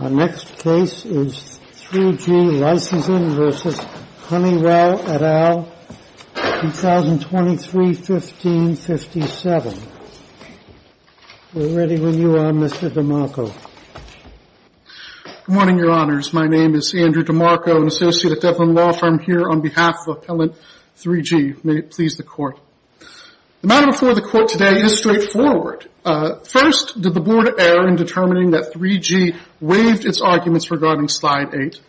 Our next case is 3G Licensing, S.A. v. Honeywell, 2023-15-57. We're ready when you are, Mr. DeMarco. Good morning, Your Honors. My name is Andrew DeMarco, an associate at Devlin Law Firm, here on behalf of Appellant 3G. May it please the Court. The matter before the Court today is straightforward. First, did the Board err in determining that 3G waived its arguments regarding Slide 8?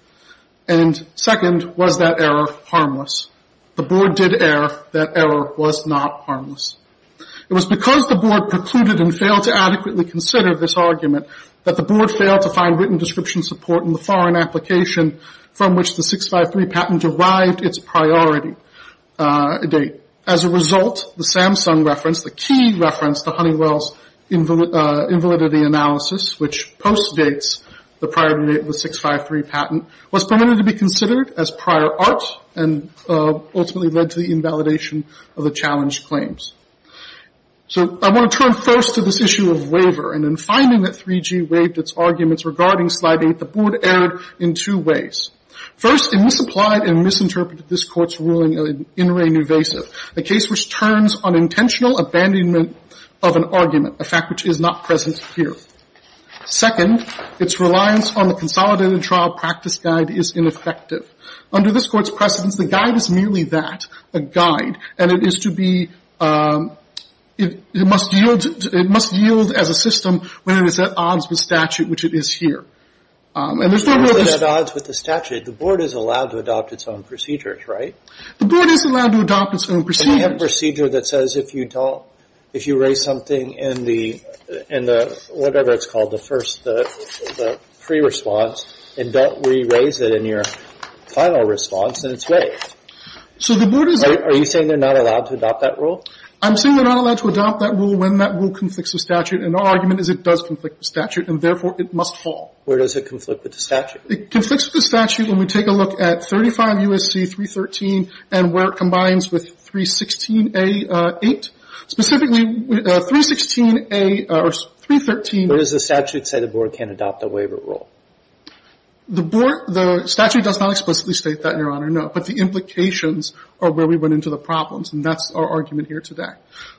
And second, was that error harmless? The Board did err that error was not harmless. It was because the Board precluded and failed to adequately consider this argument that the Board failed to find written description support in the foreign application from which the 653 patent derived its priority date. As a result, the Samsung reference, the key reference to Honeywell's invalidity analysis, which postdates the priority date of the 653 patent, was permitted to be considered as prior art and ultimately led to the invalidation of the challenge claims. So I want to turn first to this issue of waiver. And in finding that 3G waived its arguments regarding Slide 8, the Board erred in two ways. First, it misapplied and misinterpreted this Court's ruling in in re nuvasive, a case which turns on intentional abandonment of an argument, a fact which is not present here. Second, its reliance on the consolidated trial practice guide is ineffective. Under this Court's precedence, the guide is merely that, a guide. And it is to be, it must yield as a system when it is at odds with statute, which it is here. And there's no real dis- If it's at odds with the statute, the Board is allowed to adopt its own procedures, right? The Board is allowed to adopt its own procedures. But we have a procedure that says if you don't, if you raise something in the, in the whatever it's called, the first, the pre-response, and don't re-raise it in your final response, then it's waived. So the Board is- Are you saying they're not allowed to adopt that rule? I'm saying they're not allowed to adopt that rule when that rule conflicts with statute. And our argument is it does conflict with statute, and therefore it must fall. Where does it conflict with the statute? It conflicts with the statute when we take a look at 35 U.S.C. 313 and where it combines with 316A.8. Specifically, 316A or 313- But does the statute say the Board can't adopt a waiver rule? The Board, the statute does not explicitly state that, Your Honor, no. But the implications are where we went into the problems, and that's our argument here today.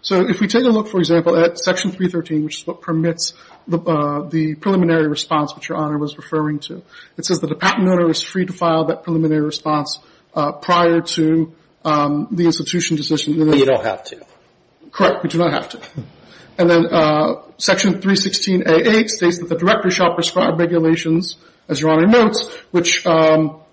So if we take a look, for example, at Section 313, which is what permits the preliminary response, which Your Honor was referring to. It says that a patent owner is free to file that preliminary response prior to the institution decision. But you don't have to. Correct. We do not have to. And then Section 316A.8 states that the Director shall prescribe regulations, as Your Honor notes, which allow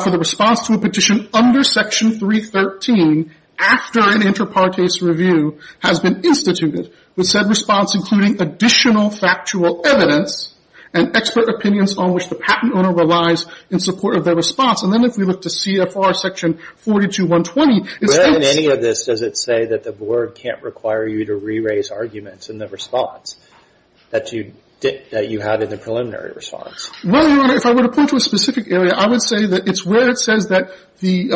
for the response to a petition under Section 313 after an inter partes review has been instituted, with said response including additional factual evidence and expert opinions on which the patent owner relies in support of their response. And then if we look to CFR Section 42120, it states- But in any of this, does it say that the Board can't require you to re-raise arguments in the response that you had in the preliminary response? Well, Your Honor, if I were to point to a specific area, I would say that it's where it says that the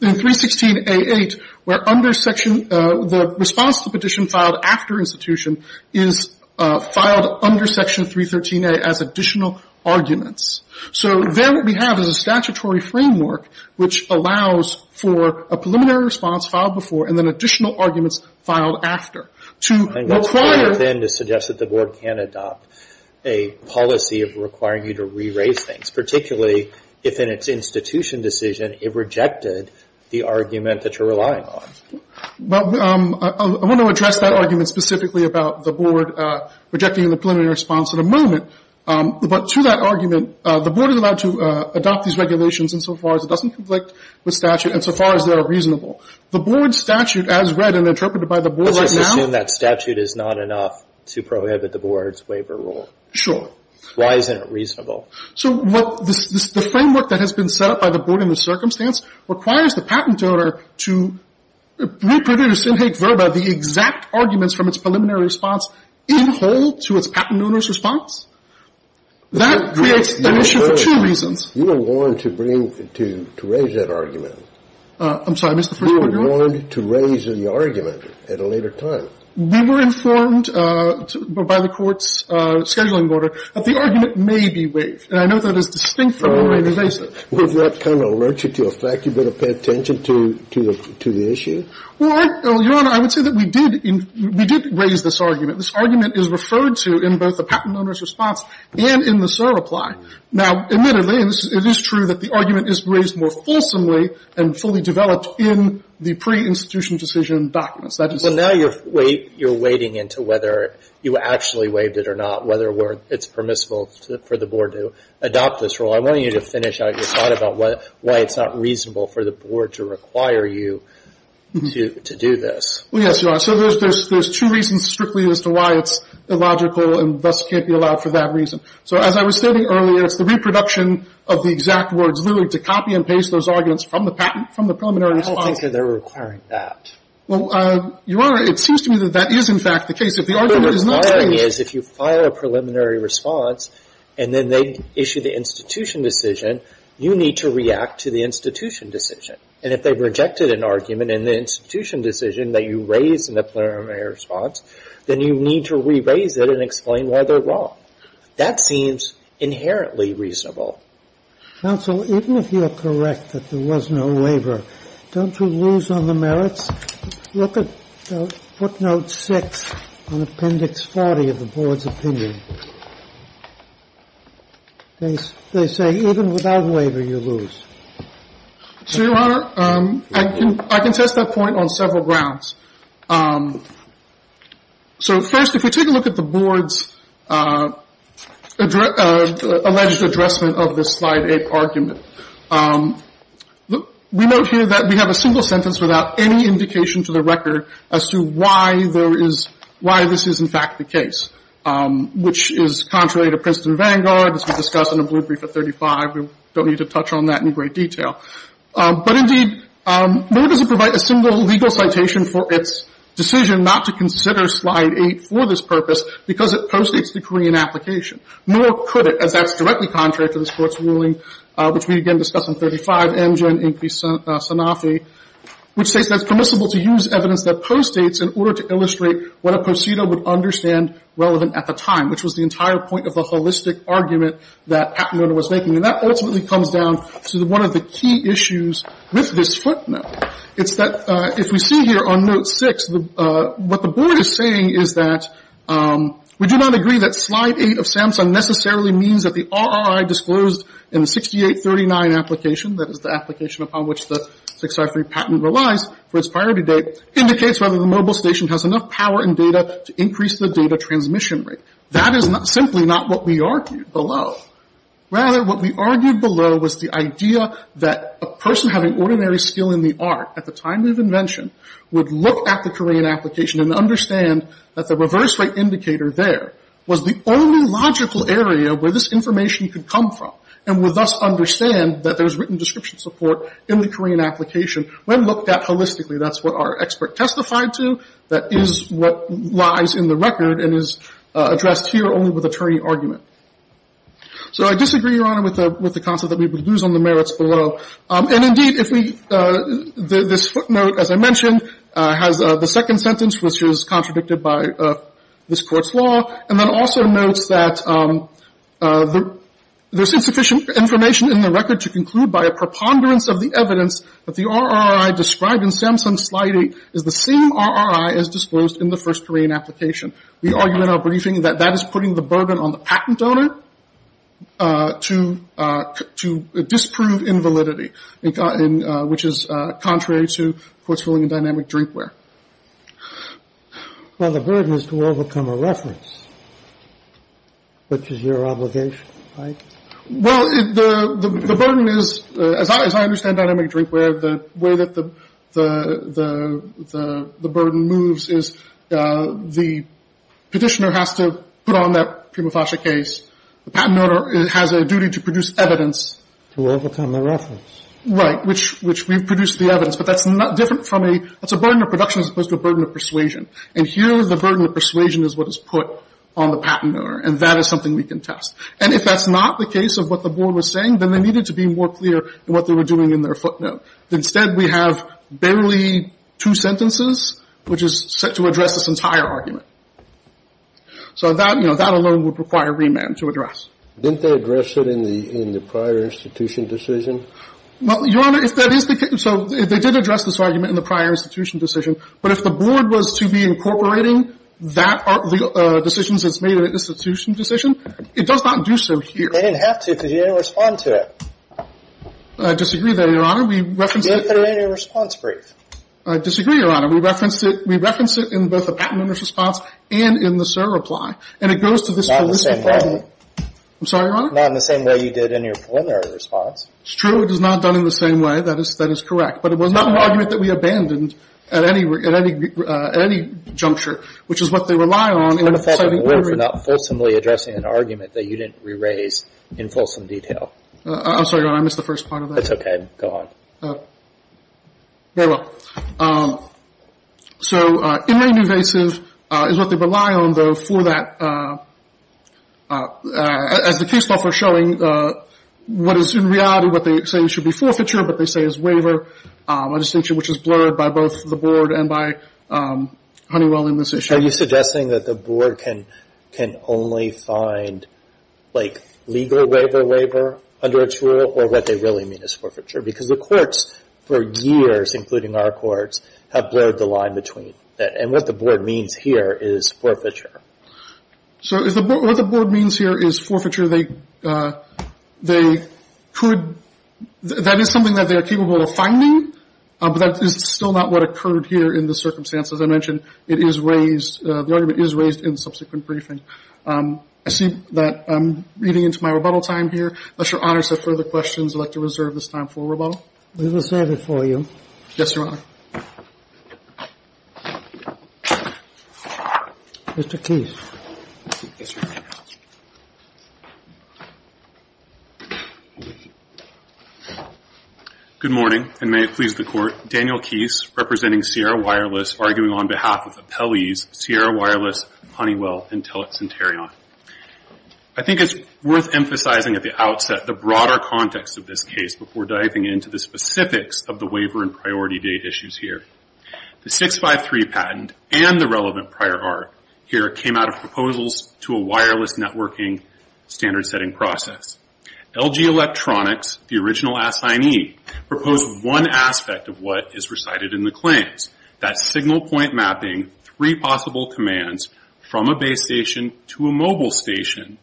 316A.8, where the response to the petition filed after institution is filed under Section 313A.8 as additional arguments. So then what we have is a statutory framework which allows for a preliminary response filed before and then additional arguments filed after. To require- And what's going within to suggest that the Board can adopt a policy of requiring you to re-raise things, particularly if in its institution decision, it rejected the argument that you're relying on? Well, I want to address that argument specifically about the Board rejecting the preliminary response in a moment. But to that argument, the Board is allowed to adopt these regulations insofar as it doesn't conflict with statute, insofar as they are reasonable. The Board statute as read and interpreted by the Board right now- Let's just assume that statute is not enough to prohibit the Board's waiver rule. Sure. Why isn't it reasonable? So the framework that has been set up by the Board in this circumstance requires the patent owner to reproduce in hake verba the exact arguments from its preliminary response in whole to its patent owner's response. That creates an issue for two reasons. You were warned to raise that argument. I'm sorry, Mr. First Attorney? You were warned to raise the argument at a later time. We were informed by the Court's scheduling order that the argument may be waived. And I note that it is distinct from the waiver basis. Would that kind of alert you to a fact you better pay attention to the issue? Well, Your Honor, I would say that we did raise this argument. This argument is referred to in both the patent owner's response and in the SOAR reply. Now, admittedly, it is true that the argument is raised more fulsomely and fully developed in the pre-institution decision documents. Well, now you're wading into whether you actually waived it or not, whether it's permissible for the Board to adopt this rule. I want you to finish out your thought about why it's not reasonable for the Board to require you to do this. Well, yes, Your Honor. So there's two reasons strictly as to why it's illogical and thus can't be allowed for that reason. So as I was stating earlier, it's the reproduction of the exact words, literally, to copy and paste those arguments from the patent, from the preliminary response. I don't think that they're requiring that. Well, Your Honor, it seems to me that that is, in fact, the case. If the argument is not raised. But the requiring is if you file a preliminary response, and then they issue the institution decision, you need to react to the institution decision. And if they rejected an argument in the institution decision that you raised in the preliminary response, then you need to re-raise it and explain why they're wrong. That seems inherently reasonable. Counsel, even if you're correct that there was no waiver, don't you lose on the merits? Look at footnote 6 on Appendix 40 of the Board's opinion. They say even without waiver, you lose. So, Your Honor, I can test that point on several grounds. So, first, if we take a look at the Board's alleged addressment of this Slide 8 argument, we note here that we have a single sentence without any indication to the record as to why there is, why this is, in fact, the case, which is contrary to Princeton Vanguard, as we discussed in the Blueprint for 35. We don't need to touch on that in great detail. But, indeed, nor does it provide a single legal citation for its decision not to consider Slide 8 for this purpose, because it postdates the Korean application. Nor could it, as that's directly contrary to this Court's ruling, which we, again, discussed in 35, MGen Inc. v. Sanofi, which states that it's permissible to use evidence that postdates in order to illustrate what a procedo would understand relevant at the time, which was the entire point of the holistic argument that Pat Miller was making. And that ultimately comes down to one of the key issues with this footnote. It's that, if we see here on Note 6, what the Board is saying is that we do not agree that Slide 8 of SAMHSA necessarily means that the RRI disclosed in the 6839 application, that is, the application upon which the 6R3 patent relies for its priority date, indicates whether the mobile station has enough power and data to increase the data transmission rate. That is simply not what we argued below. Rather, what we argued below was the idea that a person having ordinary skill in the art at the time of invention would look at the Korean application and understand that the reverse rate indicator there was the only logical area where this information could come from, and would thus understand that there's written description support in the Korean application when looked at holistically. That's what our expert testified to. That is what lies in the record and is addressed here only with attorney argument. So I disagree, Your Honor, with the concept that we would lose on the merits below. And indeed, if we, this footnote, as I mentioned, has the second sentence, which was contradicted by this Court's law, and then also notes that there's insufficient information in the record to conclude by a preponderance of the evidence that the RRI described in SAMHSA Slide 8 is the same RRI as disclosed in the first Korean application. We argue in our briefing that that is putting the burden on the patent owner. To disprove invalidity, which is contrary to Court's ruling in dynamic drinkware. Well, the burden is to overcome a reference, which is your obligation, right? Well, the burden is, as I understand dynamic drinkware, the way that the burden moves is the petitioner has to put on that prima facie case. The patent owner has a duty to produce evidence. To overcome a reference. Right, which we've produced the evidence. But that's not different from a, that's a burden of production as opposed to a burden of persuasion. And here the burden of persuasion is what is put on the patent owner. And that is something we can test. And if that's not the case of what the board was saying, then they needed to be more clear in what they were doing in their footnote. Instead, we have barely two sentences, which is set to address this entire argument. So that, you know, that alone would require remand to address. Didn't they address it in the prior institution decision? Well, Your Honor, if that is the case, so they did address this argument in the prior institution decision. But if the board was to be incorporating that decisions as made in an institution decision, it does not do so here. They didn't have to because you didn't respond to it. I disagree there, Your Honor. We referenced it. You didn't put it in your response brief. I disagree, Your Honor. We referenced it. We referenced it in both the patent owner's response and in the SIR reply. And it goes to this holistic argument. I'm sorry, Your Honor? Not in the same way you did in your preliminary response. It's true. It is not done in the same way. That is correct. But it was not an argument that we abandoned at any juncture, which is what they rely on in citing period. It's an offense of the board for not fulsomely addressing an argument that you didn't re-raise in fulsome detail. I'm sorry, Your Honor. I missed the first part of that. It's okay. Go on. Very well. So inane and evasive is what they rely on, though, for that, as the case law for showing what is in reality what they say should be forfeiture, what they say is waiver, a distinction which is blurred by both the board and by Honeywell in this issue. Are you suggesting that the board can only find, like, legal waiver-waiver under its rule or what they really mean is forfeiture? Because the courts, for years, including our courts, have blurred the line between. And what the board means here is forfeiture. So what the board means here is forfeiture. They could, that is something that they are capable of finding, but that is still not what occurred here in the circumstances I mentioned. It is raised, the argument is raised in subsequent briefing. I see that I'm getting into my rebuttal time here. Unless Your Honor has further questions, I'd like to reserve this time forward. We will serve it for you. Yes, Your Honor. Mr. Keese. Yes, Your Honor. Good morning, and may it please the Court. Daniel Keese, representing Sierra Wireless, arguing on behalf of appellees Sierra Wireless, Honeywell, Intellix, and Tarion. I think it's worth emphasizing at the outset the broader context of this case before diving into the specifics of the waiver and priority date issues here. The 653 patent and the relevant prior art here came out of proposals to a wireless networking standard-setting process. LG Electronics, the original assignee, proposed one aspect of what is recited in the claims. That's signal point mapping, three possible commands from a base station to a mobile station,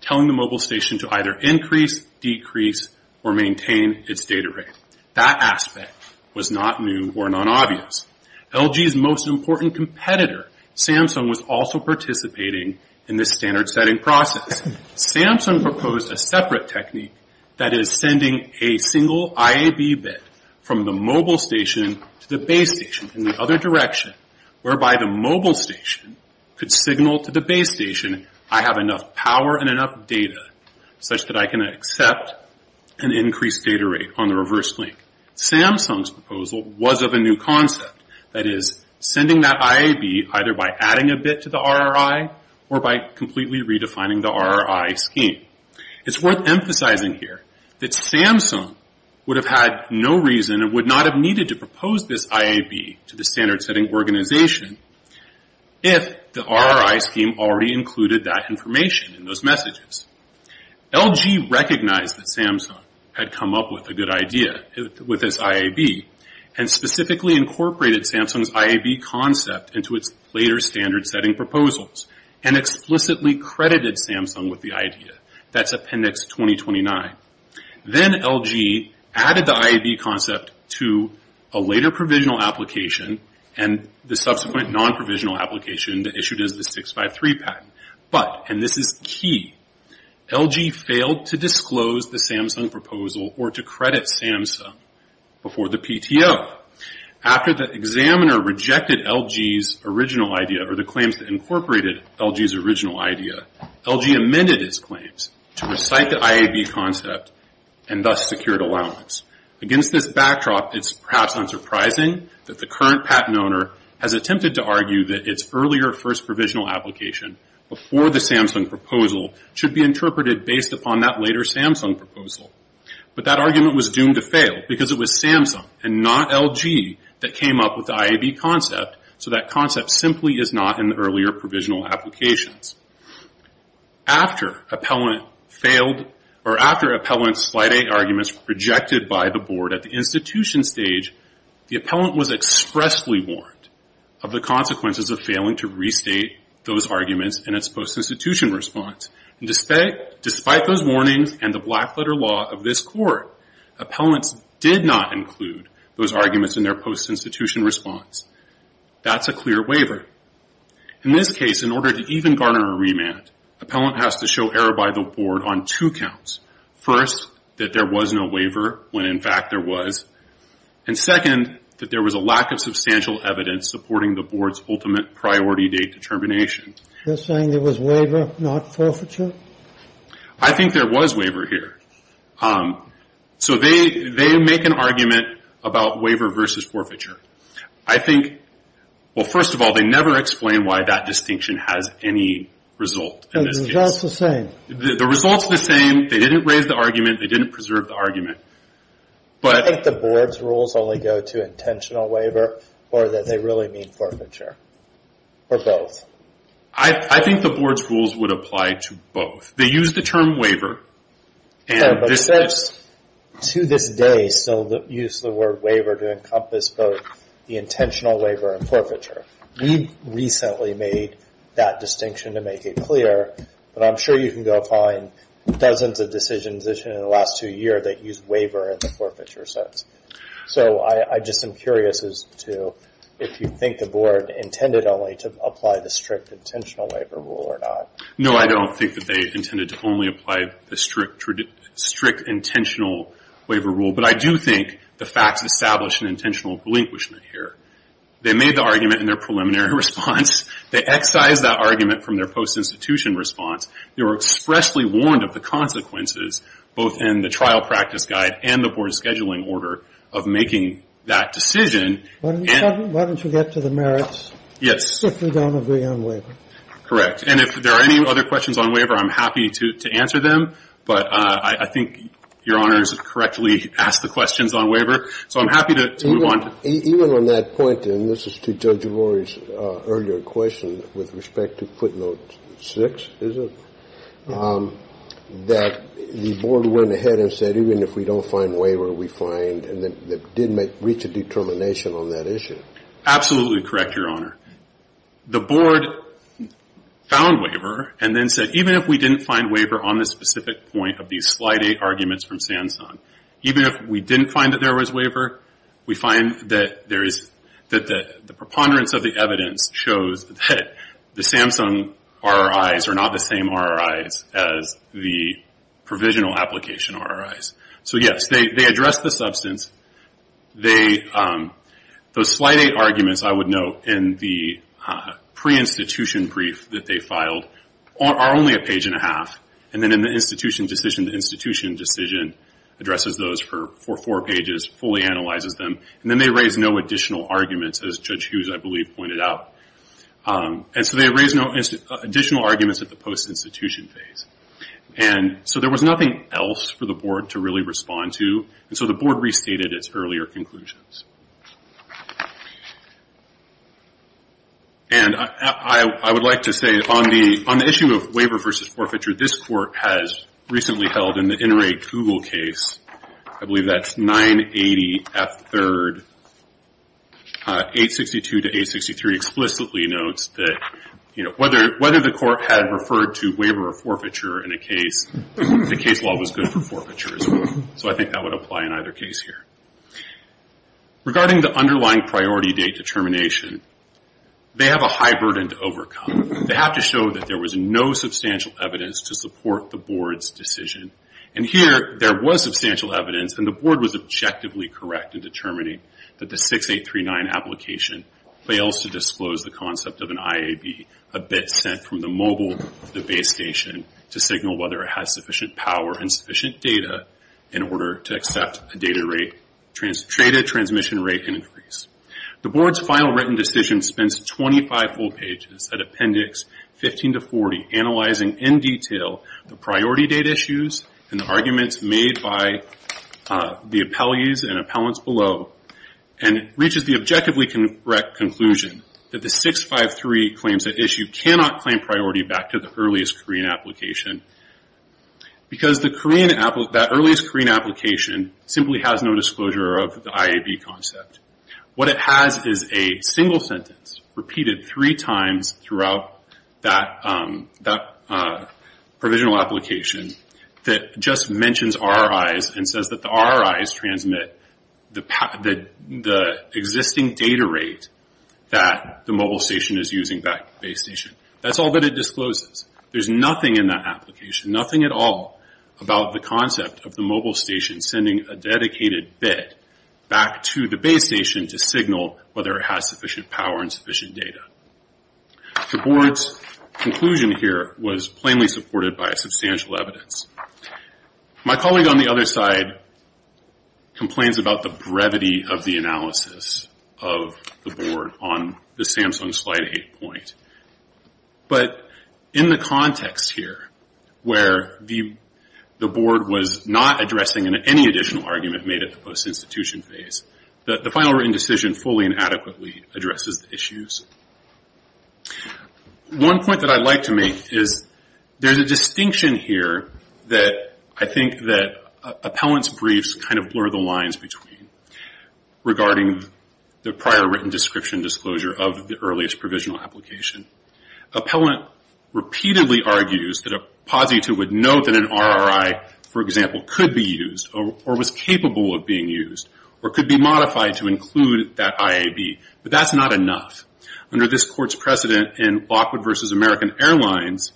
telling the mobile station to either increase, decrease, or maintain its data rate. That aspect was not new or non-obvious. LG's most important competitor, Samsung, was also participating in this standard-setting process. Samsung proposed a separate technique that is sending a single IAB bit from the mobile station to the base station in the other direction, whereby the mobile station could signal to the base station, I have enough power and enough data such that I can accept an increased data rate on the reverse link. Samsung's proposal was of a new concept, that is, sending that IAB either by adding a bit to the RRI or by completely redefining the RRI scheme. It's worth emphasizing here that Samsung would have had no reason and would not have needed to propose this IAB to the standard-setting organization if the RRI scheme already included that information in those messages. LG recognized that Samsung had come up with a good idea with this IAB, and specifically incorporated Samsung's IAB concept into its later standard-setting proposals, and explicitly credited Samsung with the idea. That's appendix 2029. Then LG added the IAB concept to a later provisional application and the subsequent non-provisional application that issued as the 653 patent. But, and this is key, LG failed to disclose the Samsung proposal or to credit Samsung before the PTO. After the examiner rejected LG's original idea or the claims that incorporated LG's original idea, LG amended its claims to recite the IAB concept and thus secured allowance. Against this backdrop, it's perhaps unsurprising that the current patent owner has attempted to argue that its earlier first provisional application before the Samsung proposal should be interpreted based upon that later Samsung proposal. But that argument was doomed to fail because it was Samsung and not LG that came up with the IAB concept, so that concept simply is not in the earlier provisional applications. After appellant's slide 8 arguments were rejected by the board at the institution stage, the appellant was expressly warned of the consequences of failing to restate those arguments in its post-institution response. Despite those warnings and the black-letter law of this court, appellants did not include those arguments in their post-institution response. That's a clear waiver. In this case, in order to even garner a remand, appellant has to show error by the board on two counts. First, that there was no waiver, when in fact there was. And second, that there was a lack of substantial evidence supporting the board's ultimate priority date determination. You're saying there was waiver, not forfeiture? I think there was waiver here. So they make an argument about waiver versus forfeiture. I think, well, first of all, they never explain why that distinction has any result in this case. The results are the same. The results are the same. They didn't raise the argument. They didn't preserve the argument. I think the board's rules only go to intentional waiver or that they really mean forfeiture or both. I think the board's rules would apply to both. They use the term waiver. But since to this day, still use the word waiver to encompass both the intentional waiver and forfeiture. We recently made that distinction to make it clear. But I'm sure you can go find dozens of decision positions in the last two years that use waiver in the forfeiture sense. So I just am curious as to if you think the board intended only to apply the strict intentional waiver rule or not. No, I don't think that they intended to only apply the strict intentional waiver rule. But I do think the facts establish an intentional relinquishment here. They made the argument in their preliminary response. They excised that argument from their post-institution response. They were expressly warned of the consequences, both in the trial practice guide and the board's scheduling order, of making that decision. Why don't you get to the merits? Yes. If we don't agree on waiver. Correct. And if there are any other questions on waiver, I'm happy to answer them. But I think Your Honor has correctly asked the questions on waiver. So I'm happy to move on. Even on that point, and this is to Judge O'Rourke's earlier question with respect to footnote six, is it? That the board went ahead and said even if we don't find waiver, we find. And that did reach a determination on that issue. Absolutely correct, Your Honor. The board found waiver and then said even if we didn't find waiver on the specific point of these slide eight arguments from Samsung, even if we didn't find that there was waiver, we find that the preponderance of the evidence shows that the Samsung RRIs are not the same RRIs as the provisional application RRIs. So yes, they addressed the substance. Those slide eight arguments, I would note, in the pre-institution brief that they filed are only a page and a half. And then in the institution decision, the institution decision addresses those for four pages, fully analyzes them. And then they raised no additional arguments, as Judge Hughes, I believe, pointed out. And so they raised no additional arguments at the post-institution phase. And so there was nothing else for the board to really respond to. And so the board restated its earlier conclusions. And I would like to say on the issue of waiver versus forfeiture, this court has recently held in the Interrate Google case, I believe that's 980F3, 862 to 863, explicitly notes that whether the court had referred to waiver or forfeiture in a case, the case law was good for forfeiture as well. So I think that would apply in either case here. Regarding the underlying priority date determination, they have a high burden to overcome. They have to show that there was no substantial evidence to support the board's decision. And here, there was substantial evidence, and the board was objectively correct in determining that the 6839 application fails to disclose the concept of an IAB, a bit sent from the mobile, the base station, to signal whether it has sufficient power and sufficient data in order to accept a data rate, transmitted transmission rate increase. The board's final written decision spends 25 full pages at appendix 15 to 40, analyzing in detail the priority date issues and the arguments made by the appellees and appellants below, and reaches the objectively correct conclusion that the 653 claims that issue cannot claim priority back to the earliest Korean application. Because that earliest Korean application simply has no disclosure of the IAB concept. What it has is a single sentence, repeated three times throughout that provisional application, that just mentions RRIs and says that the RRIs transmit the existing data rate that the mobile station is using, back to the base station. That's all that it discloses. There's nothing in that application, nothing at all, about the concept of the mobile station sending a dedicated bit back to the base station to signal whether it has sufficient power and sufficient data. The board's conclusion here was plainly supported by substantial evidence. My colleague on the other side complains about the brevity of the analysis of the board on the Samsung slide 8 point. But in the context here, where the board was not addressing any additional argument made at the post-institution phase, the final written decision fully and adequately addresses the issues. One point that I'd like to make is there's a distinction here that I think that appellant's briefs blur the lines between, regarding the prior written description disclosure of the earliest provisional application. Appellant repeatedly argues that a positive would note that an RRI, for example, could be used, or was capable of being used, or could be modified to include that IAB. But that's not enough. Under this court's precedent in Lockwood v. American Airlines,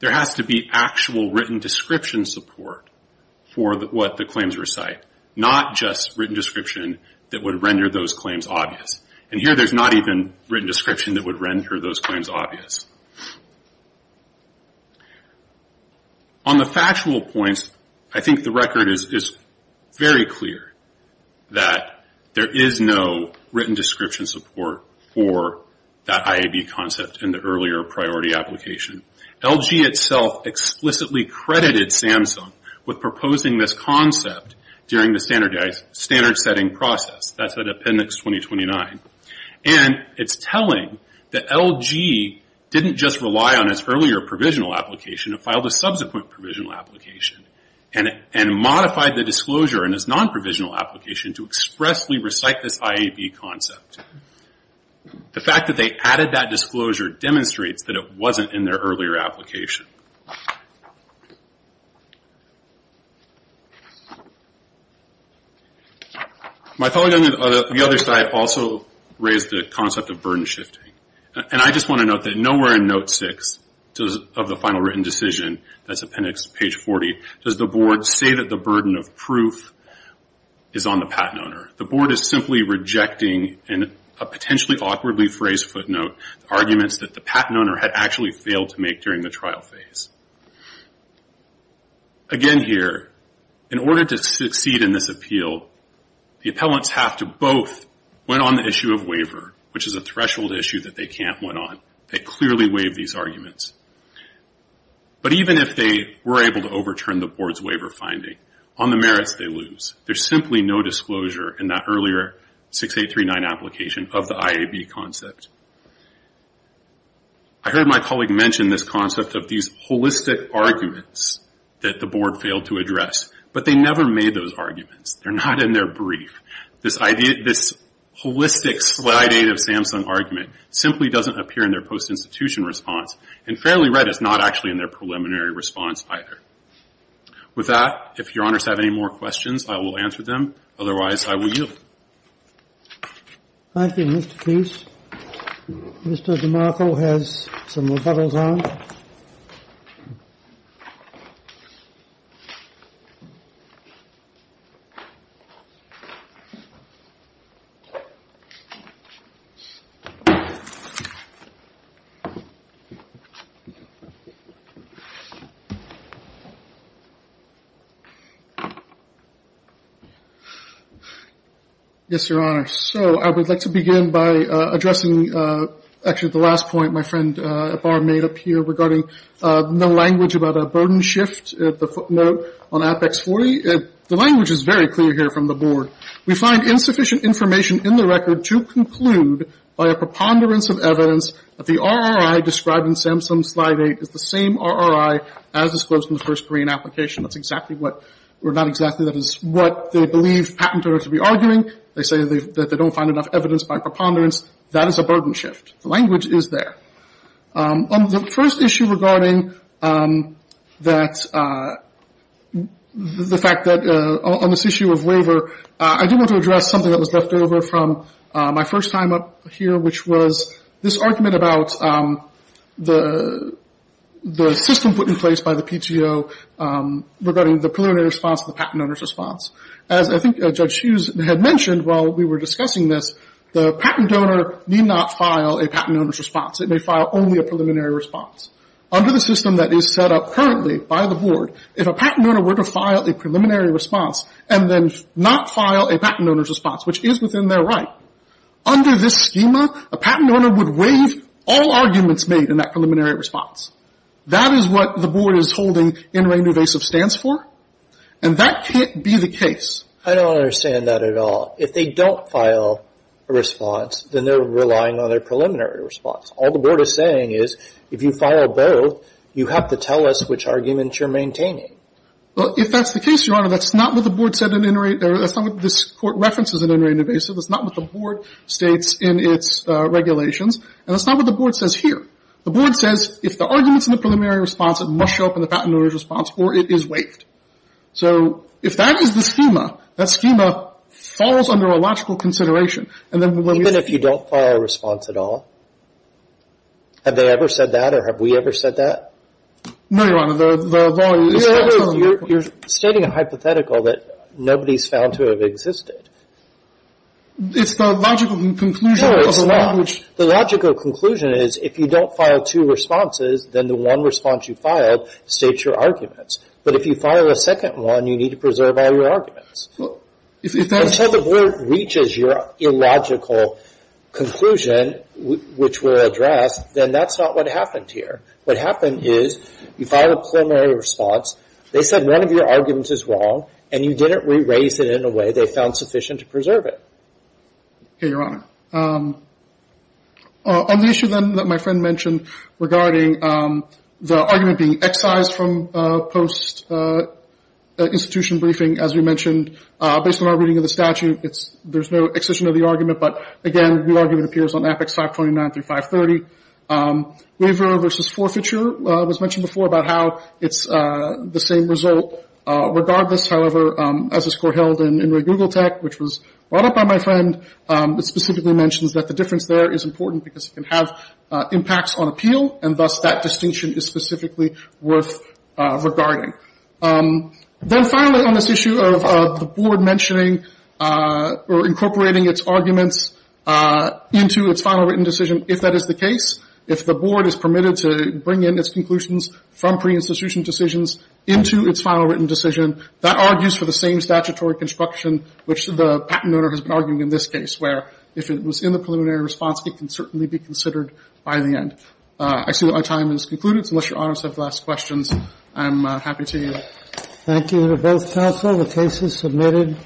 there has to be actual written description support for what the claims recite, not just written description that would render those claims obvious. And here there's not even written description that would render those claims obvious. On the factual points, I think the record is very clear that there is no written description support for that IAB concept in the earlier priority application. LG itself explicitly credited Samsung with proposing this concept during the standard setting process. That's at appendix 2029. And it's telling that LG didn't just rely on its earlier provisional application, it filed a subsequent provisional application, and modified the disclosure in its non-provisional application to expressly recite this IAB concept. The fact that they added that disclosure demonstrates that it wasn't in their earlier application. My colleague on the other side also raised the concept of burden shifting. And I just want to note that nowhere in note six of the final written decision, that's appendix page 40, does the board say that the burden of proof is on the patent owner. The board is simply rejecting, in a potentially awkwardly phrased footnote, arguments that the patent owner had actually failed to make during the trial phase. Again here, in order to succeed in this appeal, the appellants have to both win on the issue of waiver, which is a threshold issue that they can't win on. They clearly waive these arguments. But even if they were able to overturn the board's waiver finding, on the merits they lose. There's simply no disclosure in that earlier 6839 application of the IAB concept. I heard my colleague mention this concept of these holistic arguments that the board failed to address. But they never made those arguments. They're not in their brief. This idea, this holistic slide eight of Samsung argument simply doesn't appear in their post-institution response. And fairly right, it's not actually in their preliminary response either. With that, if Your Honors have any more questions, I will answer them. Otherwise, I will yield. Thank you, Mr. Keith. Mr. DeMarco has some rebuttals on. Yes, Your Honor. So I would like to begin by addressing actually the last point my friend at bar made up here regarding no language about a burden shift, the footnote on Apex 40. The language is very clear here from the board. We find insufficient information in the record to conclude by a preponderance of evidence that the RRI described in Samsung slide eight is the same RRI as disclosed in the first Korean application. That's exactly what, or not exactly. That is what they believe patent owners would be arguing. They say that they don't find enough evidence by preponderance. That is a burden shift. The language is there. On the first issue regarding that, the fact that on this issue of waiver, I do want to address something that was left over from my first time up here, which was this argument about the system put in place by the PTO regarding the preliminary response and the patent owner's response. As I think Judge Hughes had mentioned while we were discussing this, the patent donor need not file a patent owner's response. It may file only a preliminary response. Under the system that is set up currently by the board, if a patent owner were to file a preliminary response and then not file a patent owner's response, which is within their right, under this schema, a patent owner would waive all arguments made in that preliminary response. That is what the board is holding NRA-NUVASIV stands for, and that can't be the case. I don't understand that at all. If they don't file a response, then they're relying on their preliminary response. All the board is saying is if you file both, you have to tell us which arguments you're maintaining. Well, if that's the case, Your Honor, that's not what the board said in NRA — that's not what this Court references in NRA-NUVASIV. That's not what the board states in its regulations, and that's not what the board says here. The board says if the argument's in the preliminary response, it must show up in the patent owner's response, or it is waived. So if that is the schema, that schema falls under a logical consideration, and then when we — Even if you don't file a response at all? Have they ever said that, or have we ever said that? No, Your Honor, the law — You're stating a hypothetical that nobody's found to have existed. It's the logical conclusion of the law, which — If you don't file two responses, then the one response you filed states your arguments. But if you file a second one, you need to preserve all your arguments. If that's — Until the board reaches your illogical conclusion, which we'll address, then that's not what happened here. What happened is you filed a preliminary response, they said one of your arguments is wrong, and you didn't raise it in a way they found sufficient to preserve it. Okay, Your Honor. On the issue then that my friend mentioned regarding the argument being excised from post-institution briefing, as you mentioned, based on our reading of the statute, there's no excision of the argument, but again, the argument appears on Apex 529 through 530. Waiver versus forfeiture was mentioned before about how it's the same result. Regardless, however, as the score held in Google Tech, which was brought up by my friend, it specifically mentions that the difference there is important because it can have impacts on appeal, and thus that distinction is specifically worth regarding. Then finally on this issue of the board mentioning or incorporating its arguments into its final written decision, if that is the case, if the board is permitted to bring in its conclusions from pre-institution decisions into its final written decision, that argues for the same statutory construction which the patent owner has been arguing in this case, where if it was in the preliminary response, it can certainly be considered by the end. I see that my time has concluded. Unless Your Honor has any last questions, I'm happy to. Thank you to both counsel. The case is submitted.